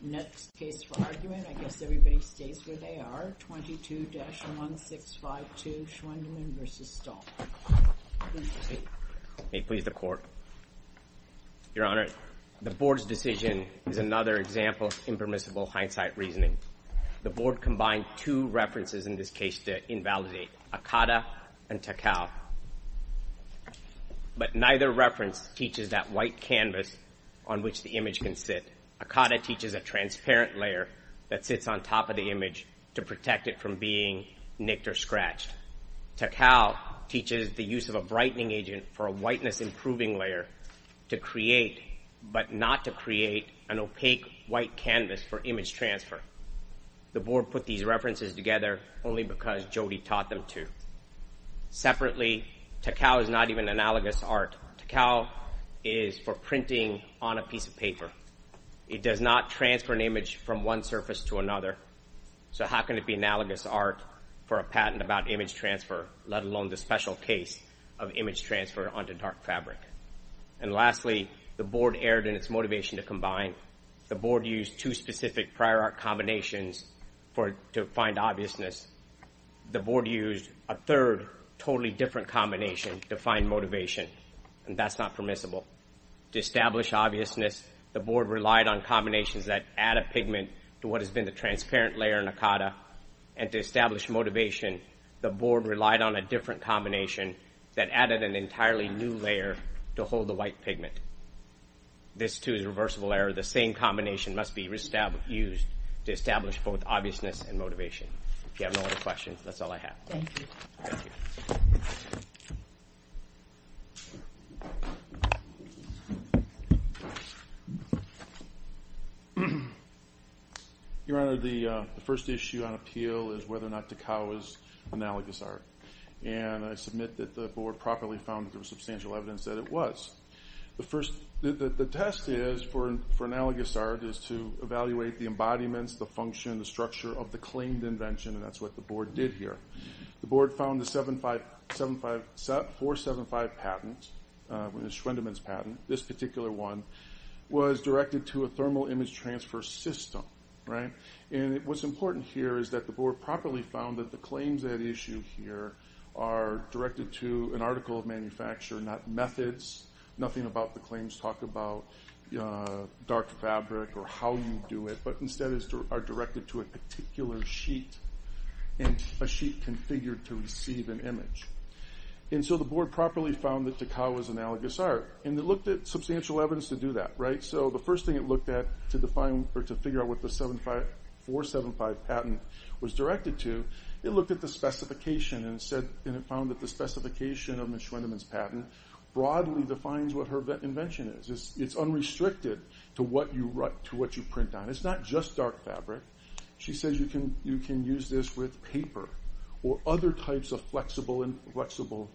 Next case for argument, I guess everybody stays where they are, 22-1652 Schwendimann v. Stahls. Please proceed. May it please the Court. Your Honor, the Board's decision is another example of impermissible hindsight reasoning. The Board combined two references in this case to invalidate, Akata and Takao. But neither reference teaches that white canvas on which the image can sit. Instead, Akata teaches a transparent layer that sits on top of the image to protect it from being nicked or scratched. Takao teaches the use of a brightening agent for a whiteness-improving layer to create, but not to create, an opaque white canvas for image transfer. The Board put these references together only because Jody taught them to. Separately, Takao is not even analogous art. Takao is for printing on a piece of paper. It does not transfer an image from one surface to another, so how can it be analogous art for a patent about image transfer, let alone the special case of image transfer onto dark fabric? And lastly, the Board erred in its motivation to combine. The Board used two specific prior art combinations to find obviousness. The Board used a third, totally different combination to find motivation, and that's not permissible. To establish obviousness, the Board relied on combinations that add a pigment to what has been the transparent layer in Akata, and to establish motivation, the Board relied on a different combination that added an entirely new layer to hold the white pigment. This, too, is a reversible error. The same combination must be used to establish both obviousness and motivation. If you have no other questions, that's all I have. Thank you. Your Honor, the first issue on appeal is whether or not Takao is analogous art, and I submit that the Board properly found through substantial evidence that it was. The test for analogous art is to evaluate the embodiments, the function, and the structure of the claimed invention, and that's what the Board did here. The Board found the 475 patent, Schwendemann's patent, this particular one, was directed to a thermal image transfer system. And what's important here is that the Board properly found that the claims at issue here are directed to an article of manufacture, not methods, nothing about the claims talk about dark fabric or how you do it, but instead are directed to a particular sheet and a sheet configured to receive an image. And so the Board properly found that Takao is analogous art, and it looked at substantial evidence to do that. So the first thing it looked at to figure out what the 475 patent was directed to, it looked at the specification and it found that the specification of Ms. Schwendemann's patent broadly defines what her invention is. It's unrestricted to what you print on. It's not just dark fabric. She says you can use this with paper or other types of flexible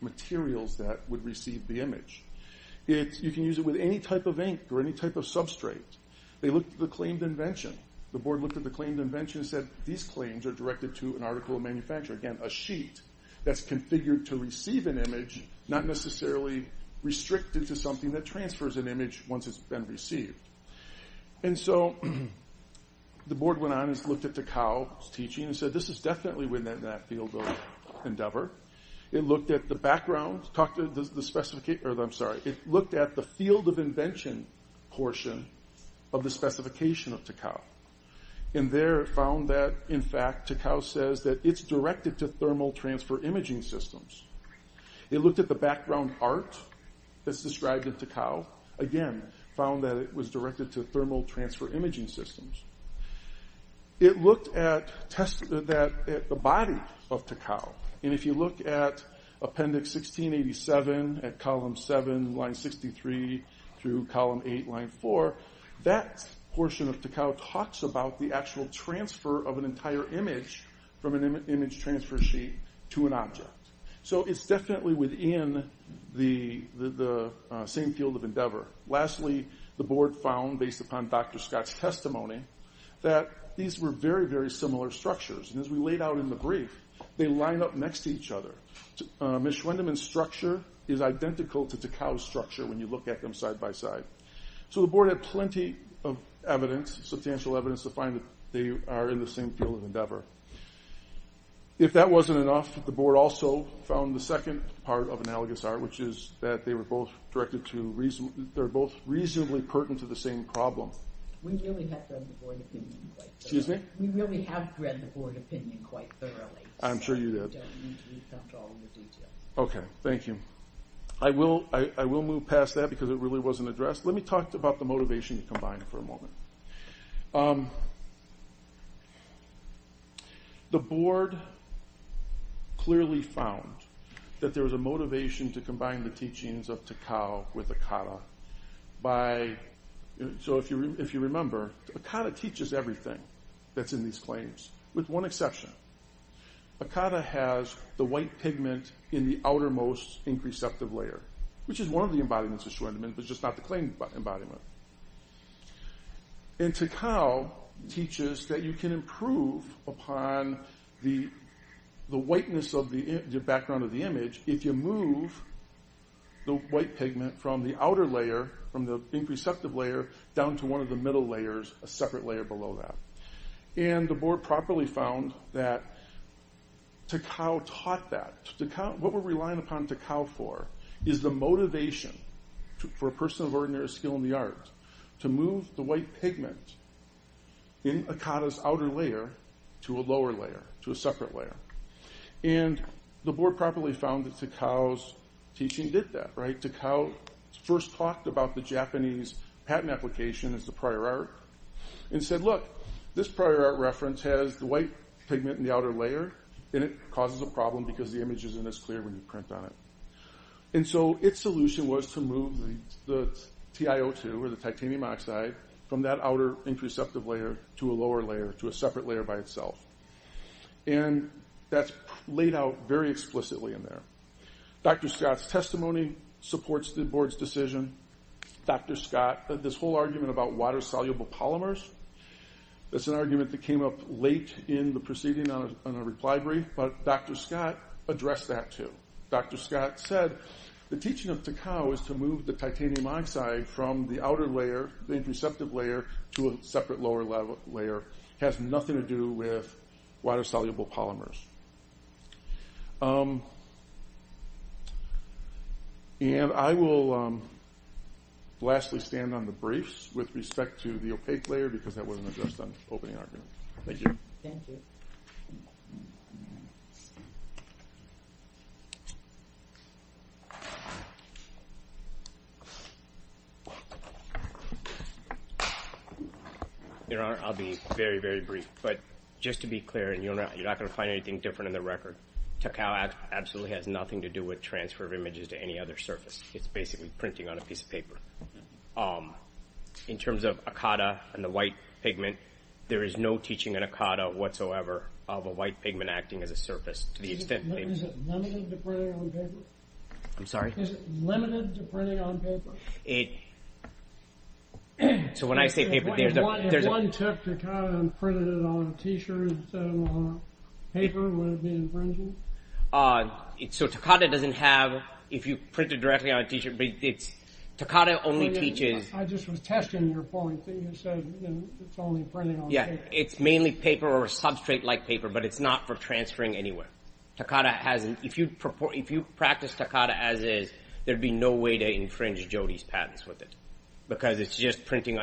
materials that would receive the image. You can use it with any type of ink or any type of substrate. They looked at the claimed invention. The Board looked at the claimed invention and said these claims are directed to an article of manufacture. Again, a sheet that's configured to receive an image, not necessarily restricted to something that transfers an image once it's been received. And so the Board went on and looked at Takao's teaching and said this is definitely within that field of endeavor. It looked at the background. It looked at the field of invention portion of the specification of Takao. And there it found that, in fact, Takao says that it's directed to thermal transfer imaging systems. It looked at the background art that's described in Takao. Again, found that it was directed to thermal transfer imaging systems. It looked at the body of Takao. And if you look at Appendix 1687 at Column 7, Line 63 through Column 8, Line 4, that portion of Takao talks about the actual transfer of an entire image from an image transfer sheet to an object. So it's definitely within the same field of endeavor. Lastly, the Board found, based upon Dr. Scott's testimony, that these were very, very similar structures. And as we laid out in the brief, they line up next to each other. Mischwendemann's structure is identical to Takao's structure when you look at them side by side. So the Board had plenty of evidence, substantial evidence, to find that they are in the same field of endeavor. If that wasn't enough, the Board also found the second part of analogous art, which is that they were both reasonably pertinent to the same problem. We really have read the Board opinion quite thoroughly. I'm sure you did. Okay, thank you. I will move past that because it really wasn't addressed. Let me talk about the motivation combined for a moment. The Board clearly found that there was a motivation to combine the teachings of Takao with Akata. So if you remember, Akata teaches everything that's in these claims, with one exception. Akata has the white pigment in the outermost ink receptive layer, which is one of the embodiments of Mischwendemann, but just not the claim embodiment. And Takao teaches that you can improve upon the whiteness of the background of the image if you move the white pigment from the outer layer, from the ink receptive layer, down to one of the middle layers, a separate layer below that. And the Board properly found that Takao taught that. What we're relying upon Takao for is the motivation for a person of ordinary skill in the arts to move the white pigment in Akata's outer layer to a lower layer, to a separate layer. And the Board properly found that Takao's teaching did that. Takao first talked about the Japanese patent application as the prior art, and said, look, this prior art reference has the white pigment in the outer layer, and it causes a problem because the image isn't as clear when you print on it. And so its solution was to move the TiO2, or the titanium oxide, from that outer ink receptive layer to a lower layer, to a separate layer by itself. And that's laid out very explicitly in there. Dr. Scott's testimony supports the Board's decision. Dr. Scott, this whole argument about water-soluble polymers, that's an argument that came up late in the proceeding on a reply brief, but Dr. Scott addressed that too. Dr. Scott said, the teaching of Takao is to move the titanium oxide from the outer layer, the ink receptive layer, to a separate lower layer. It has nothing to do with water-soluble polymers. And I will lastly stand on the briefs with respect to the opaque layer, because that wasn't addressed on the opening argument. Thank you. Thank you. Your Honor, I'll be very, very brief. But just to be clear, and you're not going to find anything different in the record, Takao absolutely has nothing to do with transfer of images to any other surface. It's basically printing on a piece of paper. In terms of Akata and the white pigment, there is no teaching in Akata whatsoever of a white pigment acting as a surface, to the extent that it is. Is it limited to printing on paper? I'm sorry? Is it limited to printing on paper? So when I say paper, there's a… If one took Takao and printed it on a T-shirt instead of on paper, would it be infringing? So Takao doesn't have, if you print it directly on a T-shirt, but it's… Takao only teaches… I just was testing your point that you said it's only printing on paper. Yeah, it's mainly paper or substrate-like paper, but it's not for transferring anywhere. If you practice Takao as is, there'd be no way to infringe Jody's patents with it because it's just printing.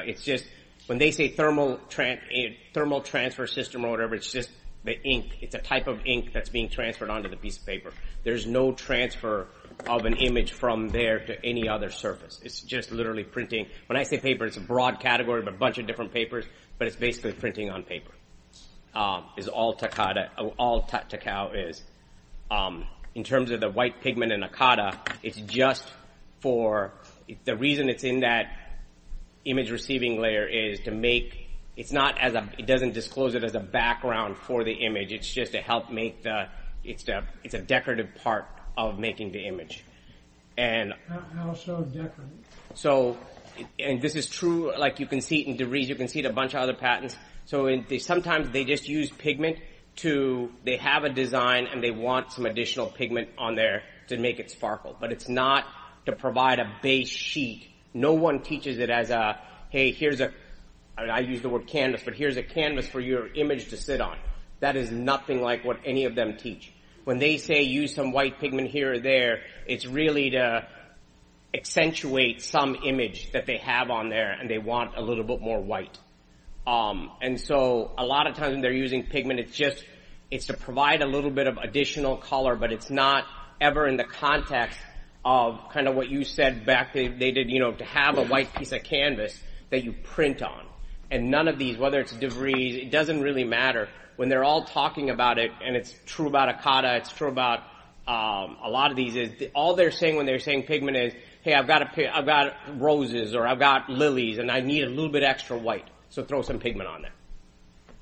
When they say thermal transfer system or whatever, it's just the ink. It's a type of ink that's being transferred onto the piece of paper. There's no transfer of an image from there to any other surface. It's just literally printing. When I say paper, it's a broad category of a bunch of different papers, but it's basically printing on paper. It's all Takao is. In terms of the white pigment in Akata, it's just for… The reason it's in that image-receiving layer is to make… It doesn't disclose it as a background for the image. It's just to help make the… It's a decorative part of making the image. How so decorative? This is true. You can see it in DeVries. You can see it in a bunch of other patents. Sometimes they just use pigment to… They have a design, and they want some additional pigment on there to make it sparkle, but it's not to provide a base sheet. No one teaches it as a, hey, here's a… I use the word canvas, but here's a canvas for your image to sit on. That is nothing like what any of them teach. When they say use some white pigment here or there, it's really to accentuate some image that they have on there, and they want a little bit more white. And so a lot of times when they're using pigment, it's just to provide a little bit of additional color, but it's not ever in the context of kind of what you said back, to have a white piece of canvas that you print on. And none of these, whether it's DeVries, it doesn't really matter. When they're all talking about it, and it's true about Akata, it's true about a lot of these, all they're saying when they're saying pigment is, hey, I've got roses, or I've got lilies, and I need a little bit of extra white, so throw some pigment on there.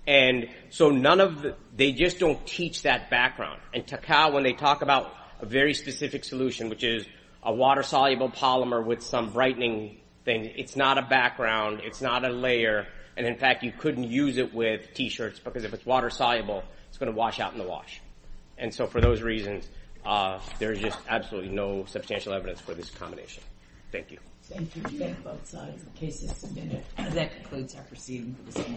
And so none of the…they just don't teach that background. And Takao, when they talk about a very specific solution, which is a water-soluble polymer with some brightening thing, it's not a background, it's not a layer, and in fact you couldn't use it with T-shirts, because if it's water-soluble, it's going to wash out in the wash. And so for those reasons, there is just absolutely no substantial evidence for this combination. Thank you. Thank you. Both sides. The case is submitted. That concludes our proceedings.